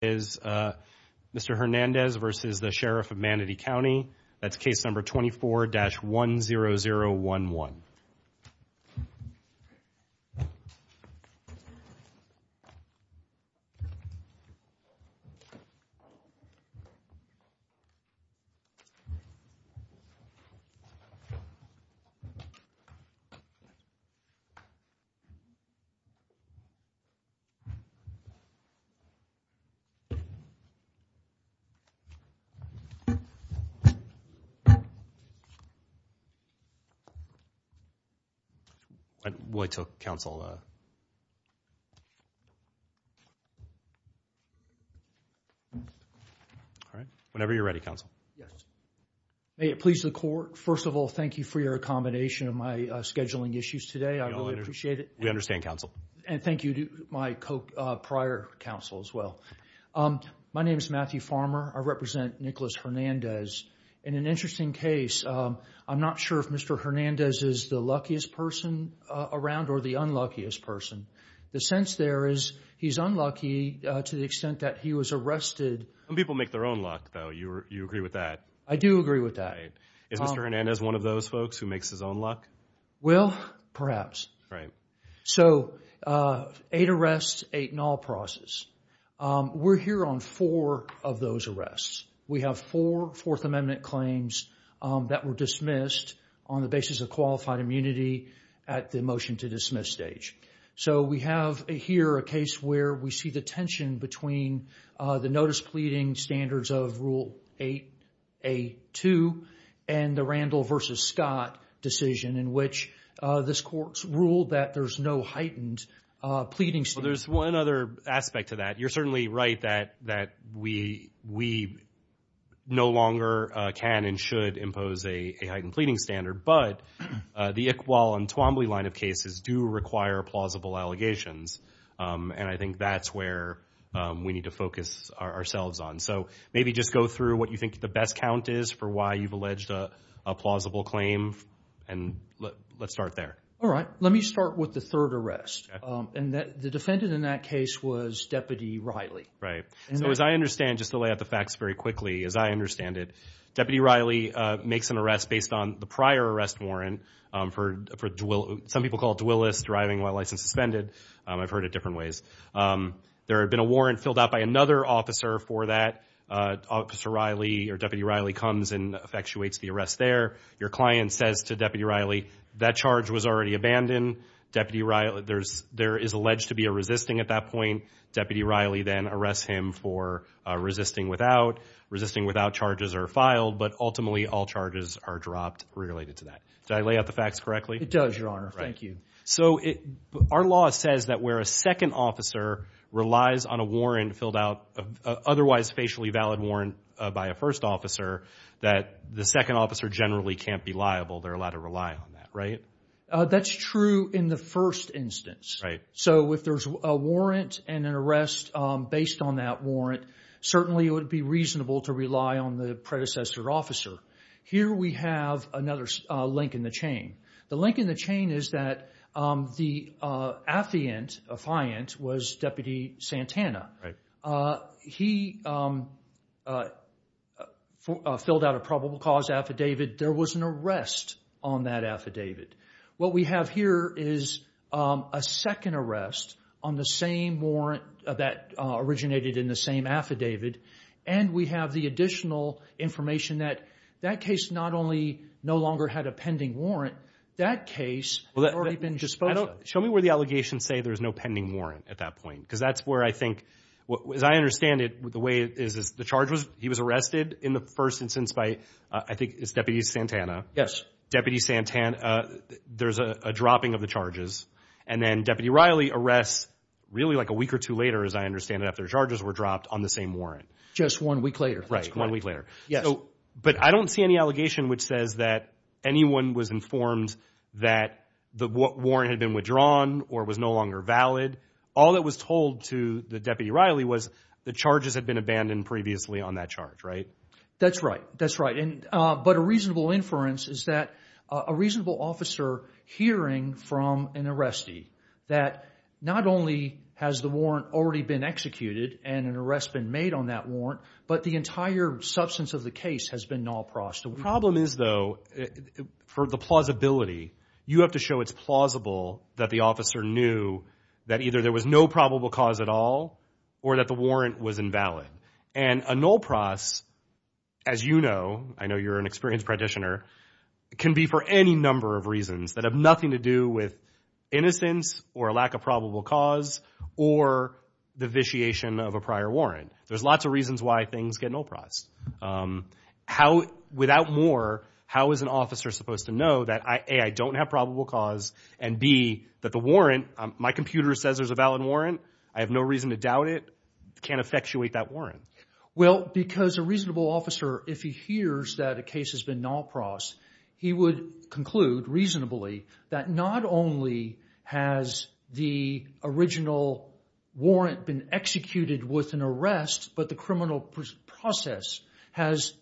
is Mr. Hernandez versus the Sheriff of Manatee County. That's case number 24-10011. Whenever you're ready, counsel, may it please the court. First of all, thank you for your accommodation of my scheduling issues today. I really appreciate it. We understand counsel and thank you to my prior counsel as well. My name is Matthew Farmer. I represent Nicholas Hernandez. In an interesting case, I'm not sure if Mr. Hernandez is the luckiest person around or the unluckiest person. The sense there is he's unlucky to the extent that he was arrested. Some people make their own luck, though. You agree with that? I do agree with that. Is Mr. Hernandez one of those folks who makes his own luck? Well, perhaps. Eight arrests, eight null process. We're here on four of those arrests. We have four Fourth Amendment claims that were dismissed on the basis of qualified immunity at the motion to dismiss stage. We have here a case where we see the tension between the notice pleading standards of Rule 8A2 and the Randall v. Scott decision in which this court's ruled that there's no heightened pleading standards. There's one other aspect to that. You're certainly right that we no longer can and should impose a heightened pleading standard, but the Iqbal and Twombly line of cases do require plausible allegations. I think that's where we need to focus ourselves on. Maybe just go through what you think the best count is for why you've alleged a plausible claim. Let's start there. All right. Let me start with the third arrest. The defendant in that case was Deputy Riley. Right. As I understand, just to lay out the facts very quickly, as I understand it, Deputy Riley makes an arrest based on the prior arrest warrant for some people call it Dwillis, driving while license suspended. I've heard it different ways. There had been a warrant filled out by another officer for that. Officer Riley or Deputy Riley comes and effectuates the arrest there. Your client says to Deputy Riley, that charge was already abandoned. There is alleged to be a resisting at that point. Deputy Riley then arrests him for resisting without. Resisting without charges are filed, but ultimately all charges are dropped related to that. Did I lay out the facts correctly? It does, Your Honor. Thank you. So our law says that where a second officer relies on a warrant filled out, otherwise facially valid warrant by a first officer, that the second officer generally can't be liable. They're allowed to rely on that, right? That's true in the first instance. Right. So if there's a warrant and an arrest based on that warrant, certainly it would be reasonable to rely on the predecessor officer. Here we have another link in the chain. The link in the chain is that the affiant was Deputy Santana. He filled out a probable cause affidavit. There was an arrest on that affidavit. What we have here is a second arrest on the same warrant that originated in the same affidavit. We have the additional information that that case not only no longer had a pending warrant, that case had already been disposed of. Show me where the allegations say there's no pending warrant at that point. Because that's where I think, as I understand it, the way it is, the charge was he was arrested in the first instance by, I think it's Deputy Santana. Yes. Deputy Santana, there's a dropping of the charges. And then Deputy Riley arrests really like a week or two later, as I understand it, after charges were dropped on the same warrant. Just one week later. Right, one week later. But I don't see any allegation which says that anyone was informed that the warrant had been withdrawn or was no longer valid. All that was told to the Deputy Riley was the charges had been abandoned previously on that charge, right? That's right. That's right. But a reasonable inference is that a reasonable officer hearing from an arrestee that not only has the warrant already been executed and an arrest been made on that warrant, but the entire substance of the case has been null-prossed. The problem is, though, for the plausibility, you have to show it's plausible that the officer knew that either there was no probable cause at all or that the warrant was invalid. And a null-pross, as you know, I know you're an experienced practitioner, can be for any number of reasons that have nothing to do with innocence or a lack of probable cause or the vitiation of a prior warrant. There's lots of reasons why things get null-prossed. Without more, how is an officer supposed to know that A, I don't have probable cause, and B, that the warrant, my computer says there's a valid warrant, I have no reason to doubt it, can't effectuate that warrant? Well, because a reasonable officer, if he hears that a case has been null-prossed, he would conclude reasonably that not only has the original warrant been executed with an arrest, but the criminal process has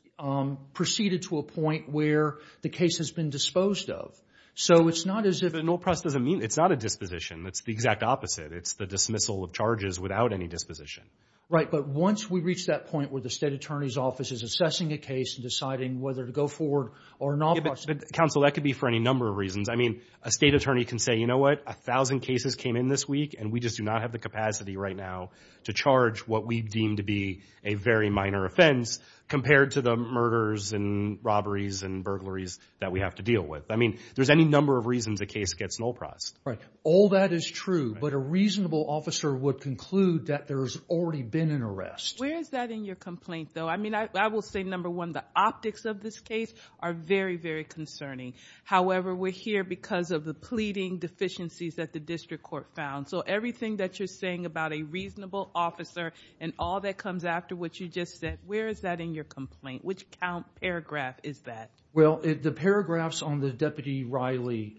proceeded to a point where the case has been disposed of. So it's not as if... But null-pross doesn't mean, it's not a disposition. That's the exact opposite. It's the dismissal of charges without any disposition. Right, but once we reach that point where the state attorney's office is assessing a case and deciding whether to go forward or null-pross... Counsel, that could be for any number of reasons. I mean, a state attorney can say, you know what, a thousand cases came in this week, and we just do not have the capacity right now to charge what we deem to be a very minor offense compared to the murders and robberies and burglaries that we have to deal with. I mean, there's any number of reasons a case gets null-prossed. Right. All that is true, but a reasonable officer would conclude that there's already been an arrest. Where is that in your complaint, though? I mean, I will say, number one, the optics of this case are very, very concerning. However, we're here because of the pleading deficiencies that the district court found. Everything that you're saying about a reasonable officer and all that comes after what you just said, where is that in your complaint? Which count paragraph is that? Well, the paragraphs on the Deputy Riley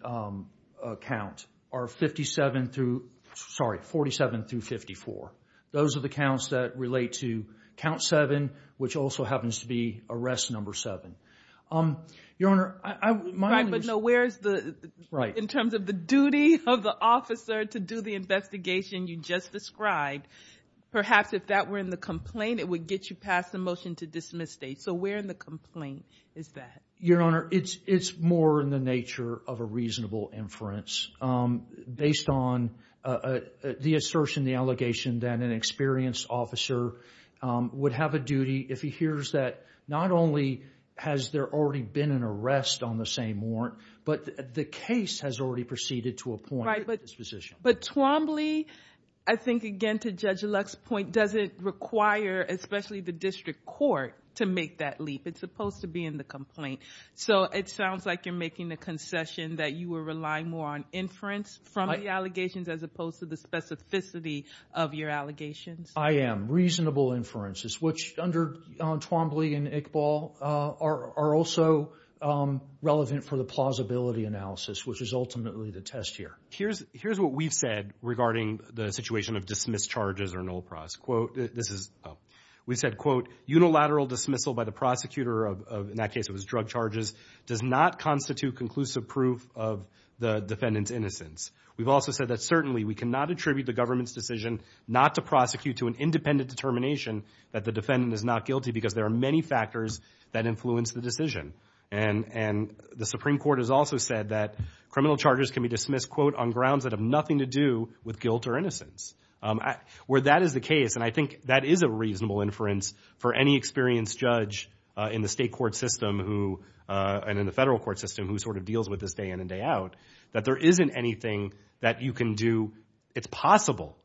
count are 47 through 54. Those are the counts that relate to count seven, which also happens to be arrest number seven. Your Honor, I... Right, but no, where's the... To do the investigation you just described, perhaps if that were in the complaint, it would get you past the motion to dismiss state. So where in the complaint is that? Your Honor, it's more in the nature of a reasonable inference based on the assertion, the allegation that an experienced officer would have a duty if he hears that not only has there already been an arrest on the same warrant, but the case has already proceeded to point at this position. Right, but Twombly, I think, again, to Judge Luck's point, doesn't require, especially the district court, to make that leap. It's supposed to be in the complaint. So it sounds like you're making the concession that you will rely more on inference from the allegations as opposed to the specificity of your allegations. I am. Reasonable inferences, which under Twombly and Iqbal are also relevant for the plausibility analysis, which is ultimately the test here. Here's what we've said regarding the situation of dismissed charges or null pros. We said, quote, unilateral dismissal by the prosecutor of, in that case it was drug charges, does not constitute conclusive proof of the defendant's innocence. We've also said that certainly we cannot attribute the government's decision not to prosecute to an independent determination that the defendant is not guilty because there are many factors that influence the decision. And the Supreme Court has also said that criminal charges can be dismissed, quote, on grounds that have nothing to do with guilt or innocence. Where that is the case, and I think that is a reasonable inference for any experienced judge in the state court system and in the federal court system who sort of deals with this day in and day out, that there isn't anything that you can do. It's possible,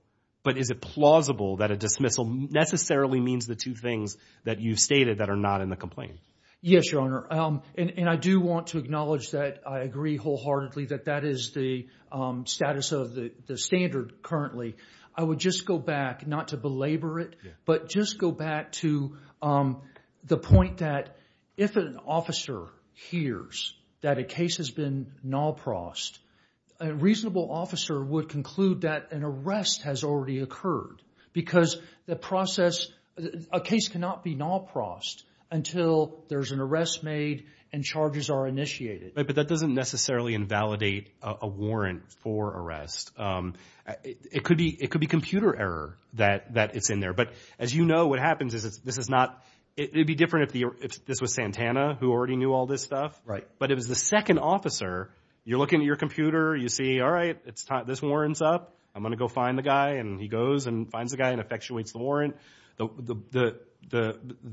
but is it plausible that dismissal necessarily means the two things that you've stated that are not in the complaint? Yes, Your Honor. And I do want to acknowledge that I agree wholeheartedly that that is the status of the standard currently. I would just go back, not to belabor it, but just go back to the point that if an officer hears that a case has been null pros, a reasonable officer would conclude that an arrest has already occurred because the process, a case cannot be null pros until there's an arrest made and charges are initiated. But that doesn't necessarily invalidate a warrant for arrest. It could be computer error that it's in there. But as you know, what happens is this is not, it'd be different if this was Santana who already knew all this stuff. Right. But if it's the second officer, you're looking at your computer, you see, all right, this warrant's up. I'm going to go find the guy. And he goes and finds the guy and effectuates the warrant.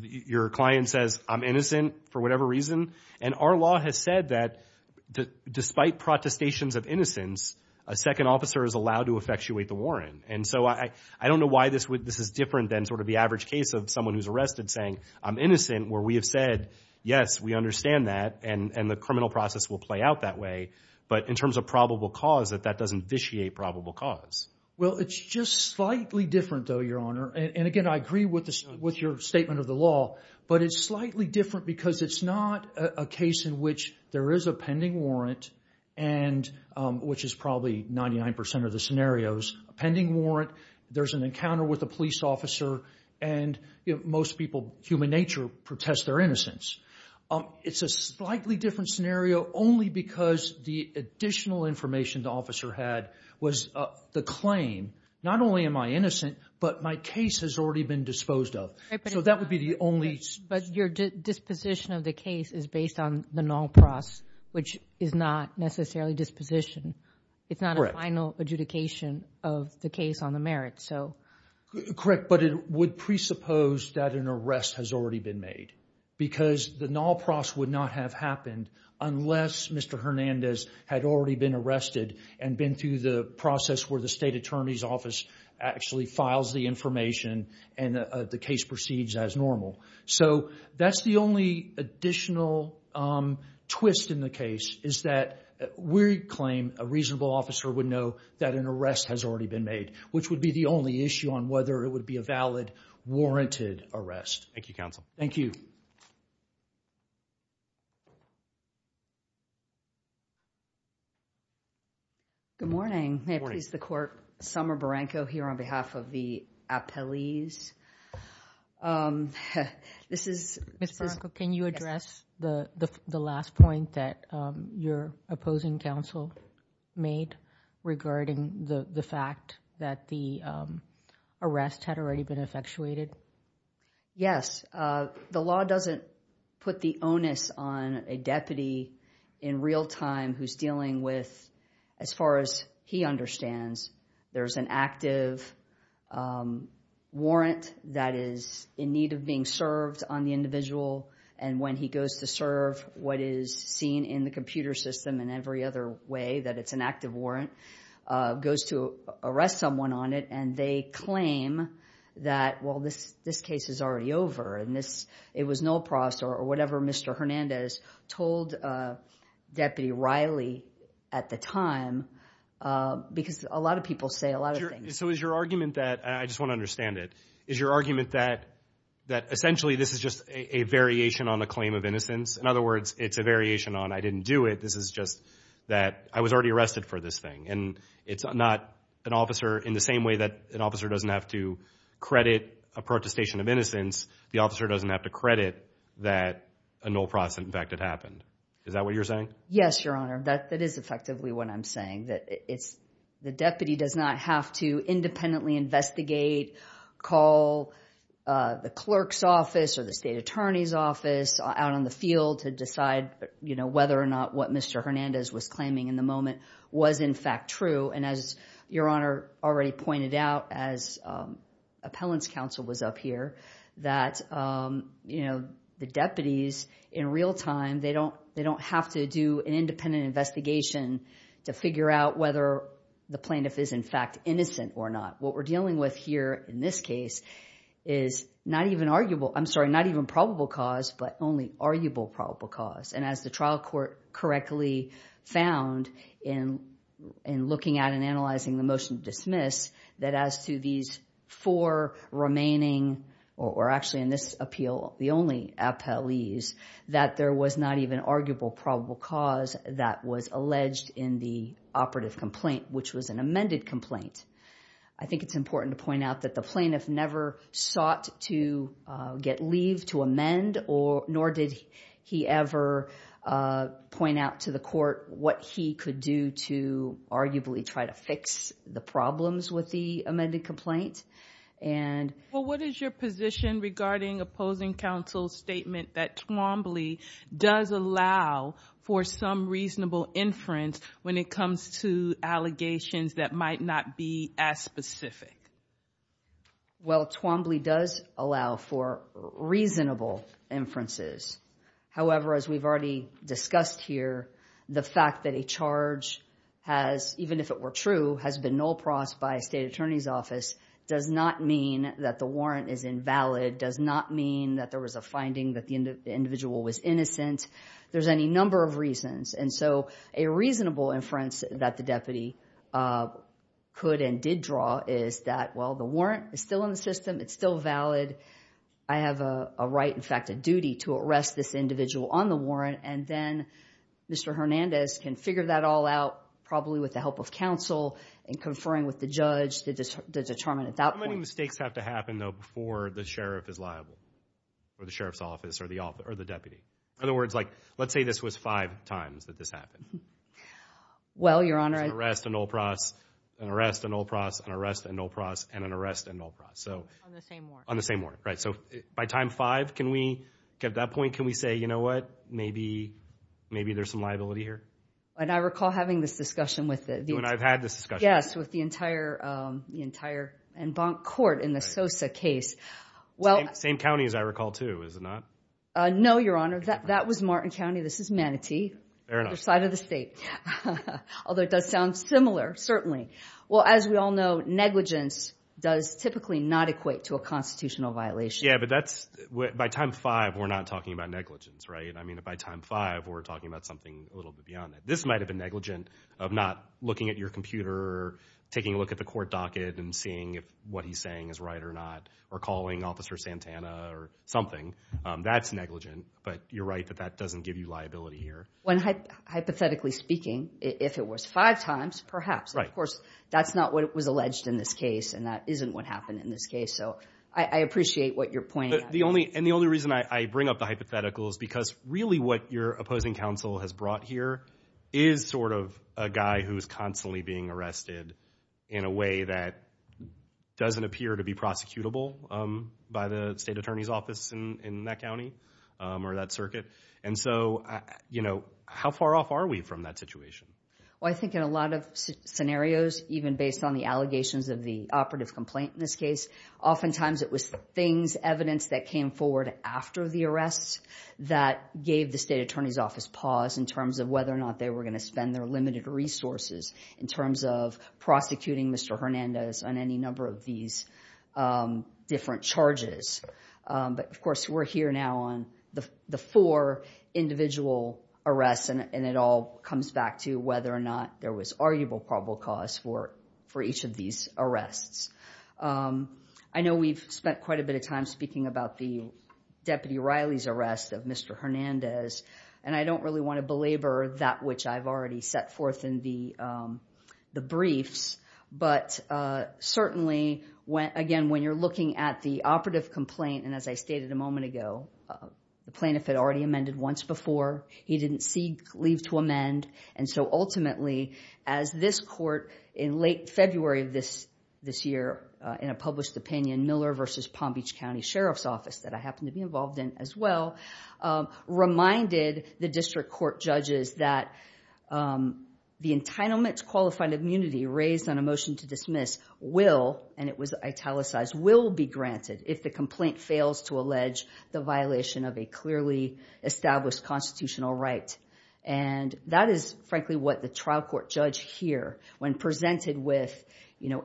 Your client says, I'm innocent for whatever reason. And our law has said that despite protestations of innocence, a second officer is allowed to effectuate the warrant. And so I don't know why this is different than sort of the average case of someone who's arrested saying, I'm innocent, where we have said, yes, we understand that and the criminal process will play out that way. But in terms of probable cause, that that doesn't vitiate probable cause. Well, it's just slightly different though, Your Honor. And again, I agree with your statement of the law, but it's slightly different because it's not a case in which there is a pending warrant and which is probably 99% of the scenarios, a pending warrant. There's an encounter with a police officer and most people, human nature, protest their innocence. It's a slightly different scenario only because the additional information the officer had was the claim, not only am I innocent, but my case has already been disposed of. So that would be the only... But your disposition of the case is based on the non-pros, which is not necessarily disposition. It's not a final adjudication of the case on the merit. Correct. But it would presuppose that an arrest has already been made because the non-pros would not have happened unless Mr. Hernandez had already been arrested and been through the process where the state attorney's office actually files the information and the case proceeds as normal. So that's the only additional twist in the case is that we claim a reasonable officer would know that an arrest has already been made, which would be the only issue on whether it would be a valid, warranted arrest. Thank you, counsel. Thank you. Good morning. May it please the court, Summer Baranco here on behalf of the appellees. This is... Ms. Baranco, can you address the last point that your opposing counsel made regarding the fact that the arrest had already been effectuated? Yes. The law doesn't put the onus on a deputy in real time who's dealing with, as far as he understands, there's an active warrant that is in need of being served on the individual and when he goes to serve what is seen in the computer system in every other way that it's an active warrant, goes to arrest someone on it and they claim that, well, this case is already over and it was no process or whatever Mr. Hernandez told Deputy Riley at the time because a lot of people say a lot of things. So is your argument that, I just want to understand it, is your argument that essentially this is just a variation on the claim of innocence? In other words, it's a variation on I didn't do it, this is just that I was already arrested for this thing and it's not an officer in the same way that an officer doesn't have to credit a protestation of innocence, the officer doesn't have to credit that a no process in fact had happened. Is that what you're saying? Yes, your honor. That is effectively what I'm saying. The deputy does not have to independently investigate, call the clerk's office or the state attorney's office out on the field to decide whether or not what Mr. Hernandez was claiming in the moment was in fact true. And as your honor already pointed out, as appellant's counsel was up here, that the deputies in real time, they don't have to do an independent investigation to figure out whether the plaintiff is in fact innocent or not. What we're dealing with here in this case is not even arguable, I'm sorry, not even probable cause, but only arguable probable cause. And as the trial court correctly found in looking at and analyzing the motion to dismiss, that as to these four remaining, or actually in this appeal, the only appellees, that there was not even arguable probable cause that was alleged in the operative complaint, which was an amended complaint. I think it's important to point out that the plaintiff never sought to get leave to nor did he ever point out to the court what he could do to arguably try to fix the problems with the amended complaint. And... Well, what is your position regarding opposing counsel's statement that Twombly does allow for some reasonable inference when it comes to allegations that might not be as specific? Well, Twombly does allow for reasonable inferences. However, as we've already discussed here, the fact that a charge has, even if it were true, has been null pros by state attorney's office does not mean that the warrant is invalid, does not mean that there was a finding that the individual was innocent. There's any number of And so a reasonable inference that the deputy could and did draw is that, well, the warrant is still in the system. It's still valid. I have a right, in fact, a duty to arrest this individual on the warrant. And then Mr. Hernandez can figure that all out, probably with the help of counsel and conferring with the judge to determine at that point. How many mistakes have to happen, though, before the sheriff is liable, or the sheriff's office, or the deputy? In other words, let's say this was five times that this happened. Well, Your Honor. There's an arrest, a null pros, an arrest, a null pros, an arrest, a null pros, and an arrest, a null pros. On the same warrant. On the same warrant, right. So by time five, can we, at that point, can we say, you know what, maybe there's some liability here? And I recall having this discussion with the- And I've had this discussion. Yes, with the entire, the entire en banc court in the Sosa case. Same county as I recall, too, is it not? No, Your Honor. That was Martin County. This is Manatee. Fair enough. Other side of the state. Although it does sound similar, certainly. Well, as we all know, negligence does typically not equate to a constitutional violation. Yeah, but that's, by time five, we're not talking about negligence, right? I mean, by time five, we're talking about something a little bit beyond that. This might have been negligent of not looking at your computer, taking a look at the court docket, and seeing if what he's saying is right or not, or calling Officer Santana or something. That's negligent, but you're right that that doesn't give you liability here. When, hypothetically speaking, if it was five times, perhaps. Of course, that's not what was alleged in this case, and that isn't what happened in this case. So I appreciate what you're pointing out. The only, and the only reason I bring up the hypothetical is because really what your opposing counsel has brought here is sort of a guy who's constantly being arrested in a way that doesn't appear to be prosecutable by the state attorney's office in that county or that circuit. And so, you know, how far off are we from that situation? Well, I think in a lot of scenarios, even based on the allegations of the operative complaint in this case, oftentimes it was things, evidence that came forward after the arrests that gave the state attorney's office pause in terms of whether or not they were going to spend their limited resources in terms of prosecuting Mr. Hernandez on any number of these different charges. But of course, we're here now on the four individual arrests, and it all comes back to whether or not there was arguable probable cause for each of these arrests. I know we've spent quite a bit of time speaking about the Deputy Riley's arrest of Mr. Hernandez, and I don't really want to belabor that which I've already set forth in the briefs. But certainly, again, when you're looking at the operative complaint, and as I stated a moment ago, the plaintiff had already amended once before. He didn't seek leave to amend. And so ultimately, as this court in late February of this year, in a published opinion, Miller versus Palm Beach County Sheriff's Office that I happen to be involved in as well, reminded the district court judges that the entitlement to qualified immunity raised on a motion to dismiss will, and it was italicized, will be granted if the complaint fails to allege the violation of a clearly established constitutional right. And that is frankly what the trial court judge here, when presented with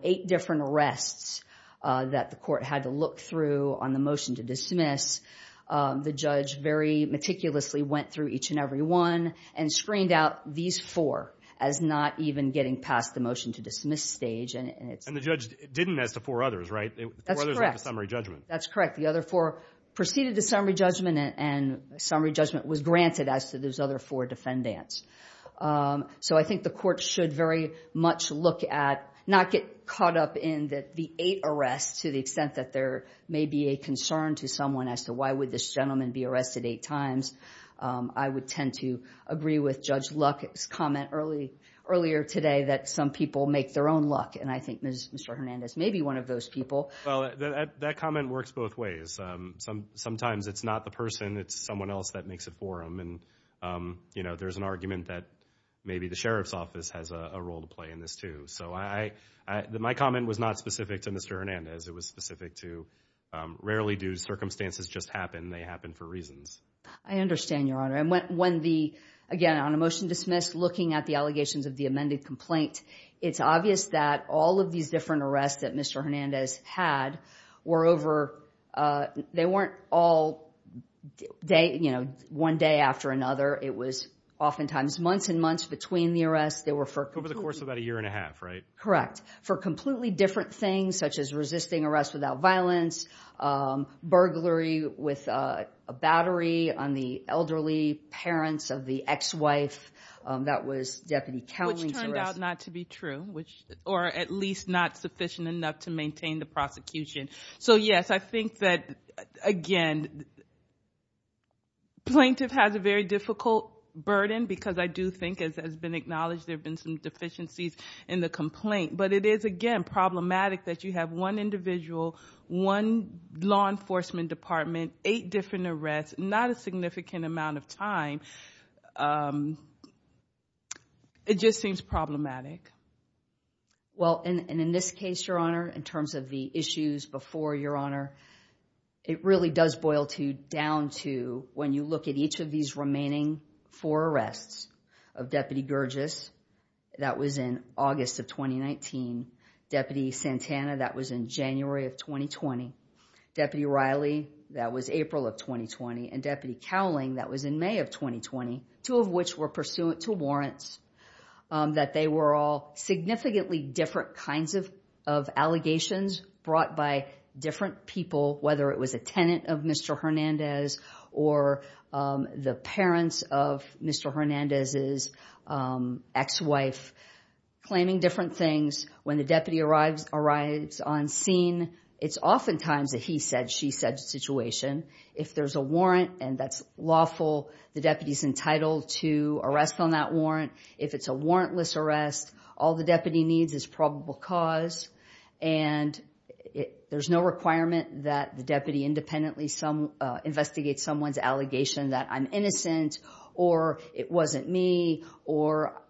eight different arrests that the court had to look through on the motion to dismiss, the judge very meticulously went through each and every one and screened out these four as not even getting past the motion to dismiss stage. And the judge didn't ask the four others, right? That's correct. The other four proceeded to summary judgment, and summary judgment was granted as to those other four defendants. So I think the court should very much look at, not get caught up in that the eight arrests, to the extent that there may be a concern to someone as to why would this gentleman be arrested eight times, I would tend to agree with Judge Luck's comment earlier today that some people make their own luck. And I think Mr. Hernandez may be one of those people. Well, that comment works both ways. Sometimes it's not the person, it's someone else that makes it for them. And, you know, there's an argument that maybe the sheriff's office has a role to play in this too. So I, my comment was not specific to Mr. Hernandez. It was specific to rarely do circumstances just happen, they happen for reasons. I understand, Your Honor. And when the, again, on a motion dismissed, looking at the allegations of the amended complaint, it's obvious that all of these different arrests that Mr. Hernandez had were over, they weren't all day, you know, one day after another. It was oftentimes months and months between the arrests. They were for... Over the course of about a year and a half, right? Correct. For completely different things, such as resisting arrest without violence, burglary with a battery on the elderly parents of the ex-wife that was Deputy Cowling's arrest. Which turned out not to be true, which, or at least not sufficient enough to maintain the prosecution. So yes, I think that, again, plaintiff has a very difficult burden because I do think, as has been acknowledged, there've been some deficiencies in the complaint. But it is, again, problematic that you have one individual, one law enforcement department, eight different arrests, not a significant amount of time. It just seems problematic. Well, and in this case, Your Honor, in terms of the issues before, Your Honor, it really does boil down to when you look at each of these remaining four arrests of Deputy Gurgis, that was in August of 2019. Deputy Santana, that was in January of 2020. Deputy Riley, that was April of 2020. And Deputy Cowling, that was in May of 2020, two of which were pursuant to warrants, that they were all significantly different kinds of allegations brought by different people, whether it was a tenant of Mr. Hernandez or the parents of Mr. Hernandez's ex-wife, claiming different things. When the deputy arrives on scene, it's oftentimes that she-said-she-said situation. If there's a warrant and that's lawful, the deputy's entitled to arrest on that warrant. If it's a warrantless arrest, all the deputy needs is probable cause. And there's no requirement that the deputy independently investigate someone's allegation that I'm innocent or it wasn't me or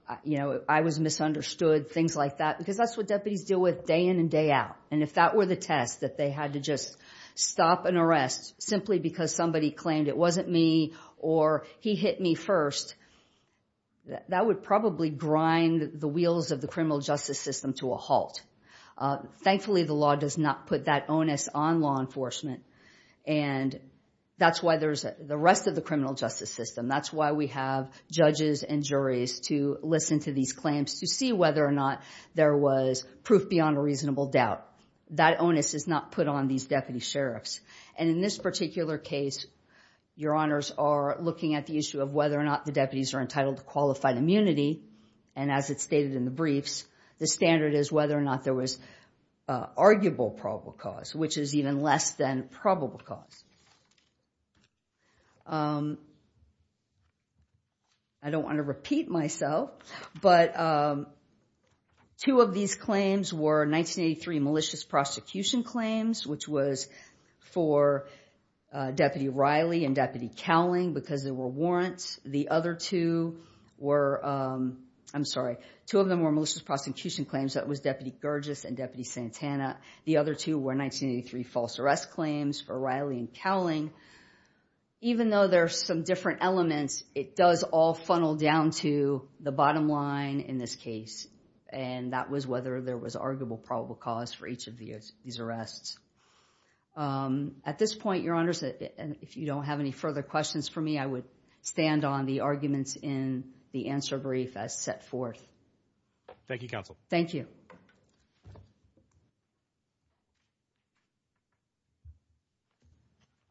I was misunderstood, things like that. Because that's what deputies deal with day in and day out. And if that were the test, that they had to just stop an arrest simply because somebody claimed it wasn't me or he hit me first, that would probably grind the wheels of the criminal justice system to a halt. Thankfully, the law does not put that onus on law enforcement. And that's why there's the rest of the criminal justice system. That's why we have judges and juries to listen to these claims to whether or not there was proof beyond a reasonable doubt. That onus is not put on these deputy sheriffs. And in this particular case, your honors are looking at the issue of whether or not the deputies are entitled to qualified immunity. And as it's stated in the briefs, the standard is whether or not there was arguable probable cause, which is even less than probable cause. I don't want to repeat myself, but two of these claims were 1983 malicious prosecution claims, which was for Deputy Riley and Deputy Cowling because there were warrants. The other two were, I'm sorry, two of them were malicious prosecution claims. That was Deputy Gurgis and Deputy Santana. The other two were 1983 false arrest claims for Riley and Cowling. Even though there are some different elements, it does all funnel down to the bottom line in this case. And that was whether there was arguable probable cause for each of these arrests. At this point, your honors, if you don't have any further questions for me, I would stand on the arguments in the answer brief as set forth. Thank you, counsel. Thank you.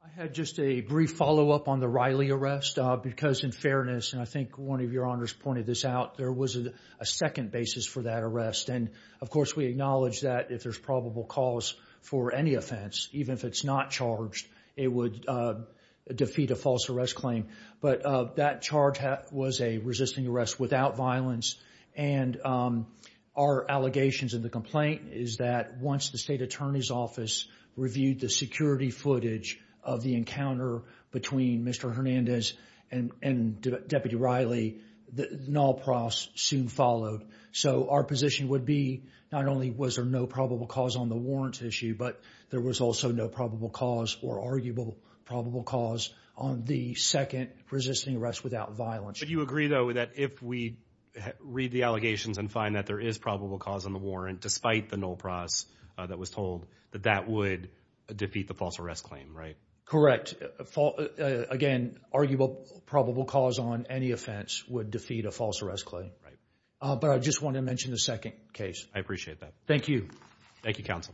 I had just a brief follow up on the Riley arrest because in fairness, and I think one of your honors pointed this out, there was a second basis for that arrest. And of course, we acknowledge that if there's probable cause for any offense, even if it's not charged, it would defeat a false arrest claim. But that charge was a resisting arrest without violence. And our allegations in the complaint is that once the state attorney's office reviewed the security footage of the encounter between Mr. Hernandez and Deputy Riley, the null profs soon followed. So our position would be not only was there no probable cause on the warrants issue, but there was also no or arguable probable cause on the second resisting arrest without violence. But you agree, though, that if we read the allegations and find that there is probable cause on the warrant, despite the null pros that was told, that that would defeat the false arrest claim, right? Correct. Again, arguable probable cause on any offense would defeat a false arrest claim. Right. But I just wanted to mention the second case. I appreciate that. Thank you. Thank you, counsel. Thank you.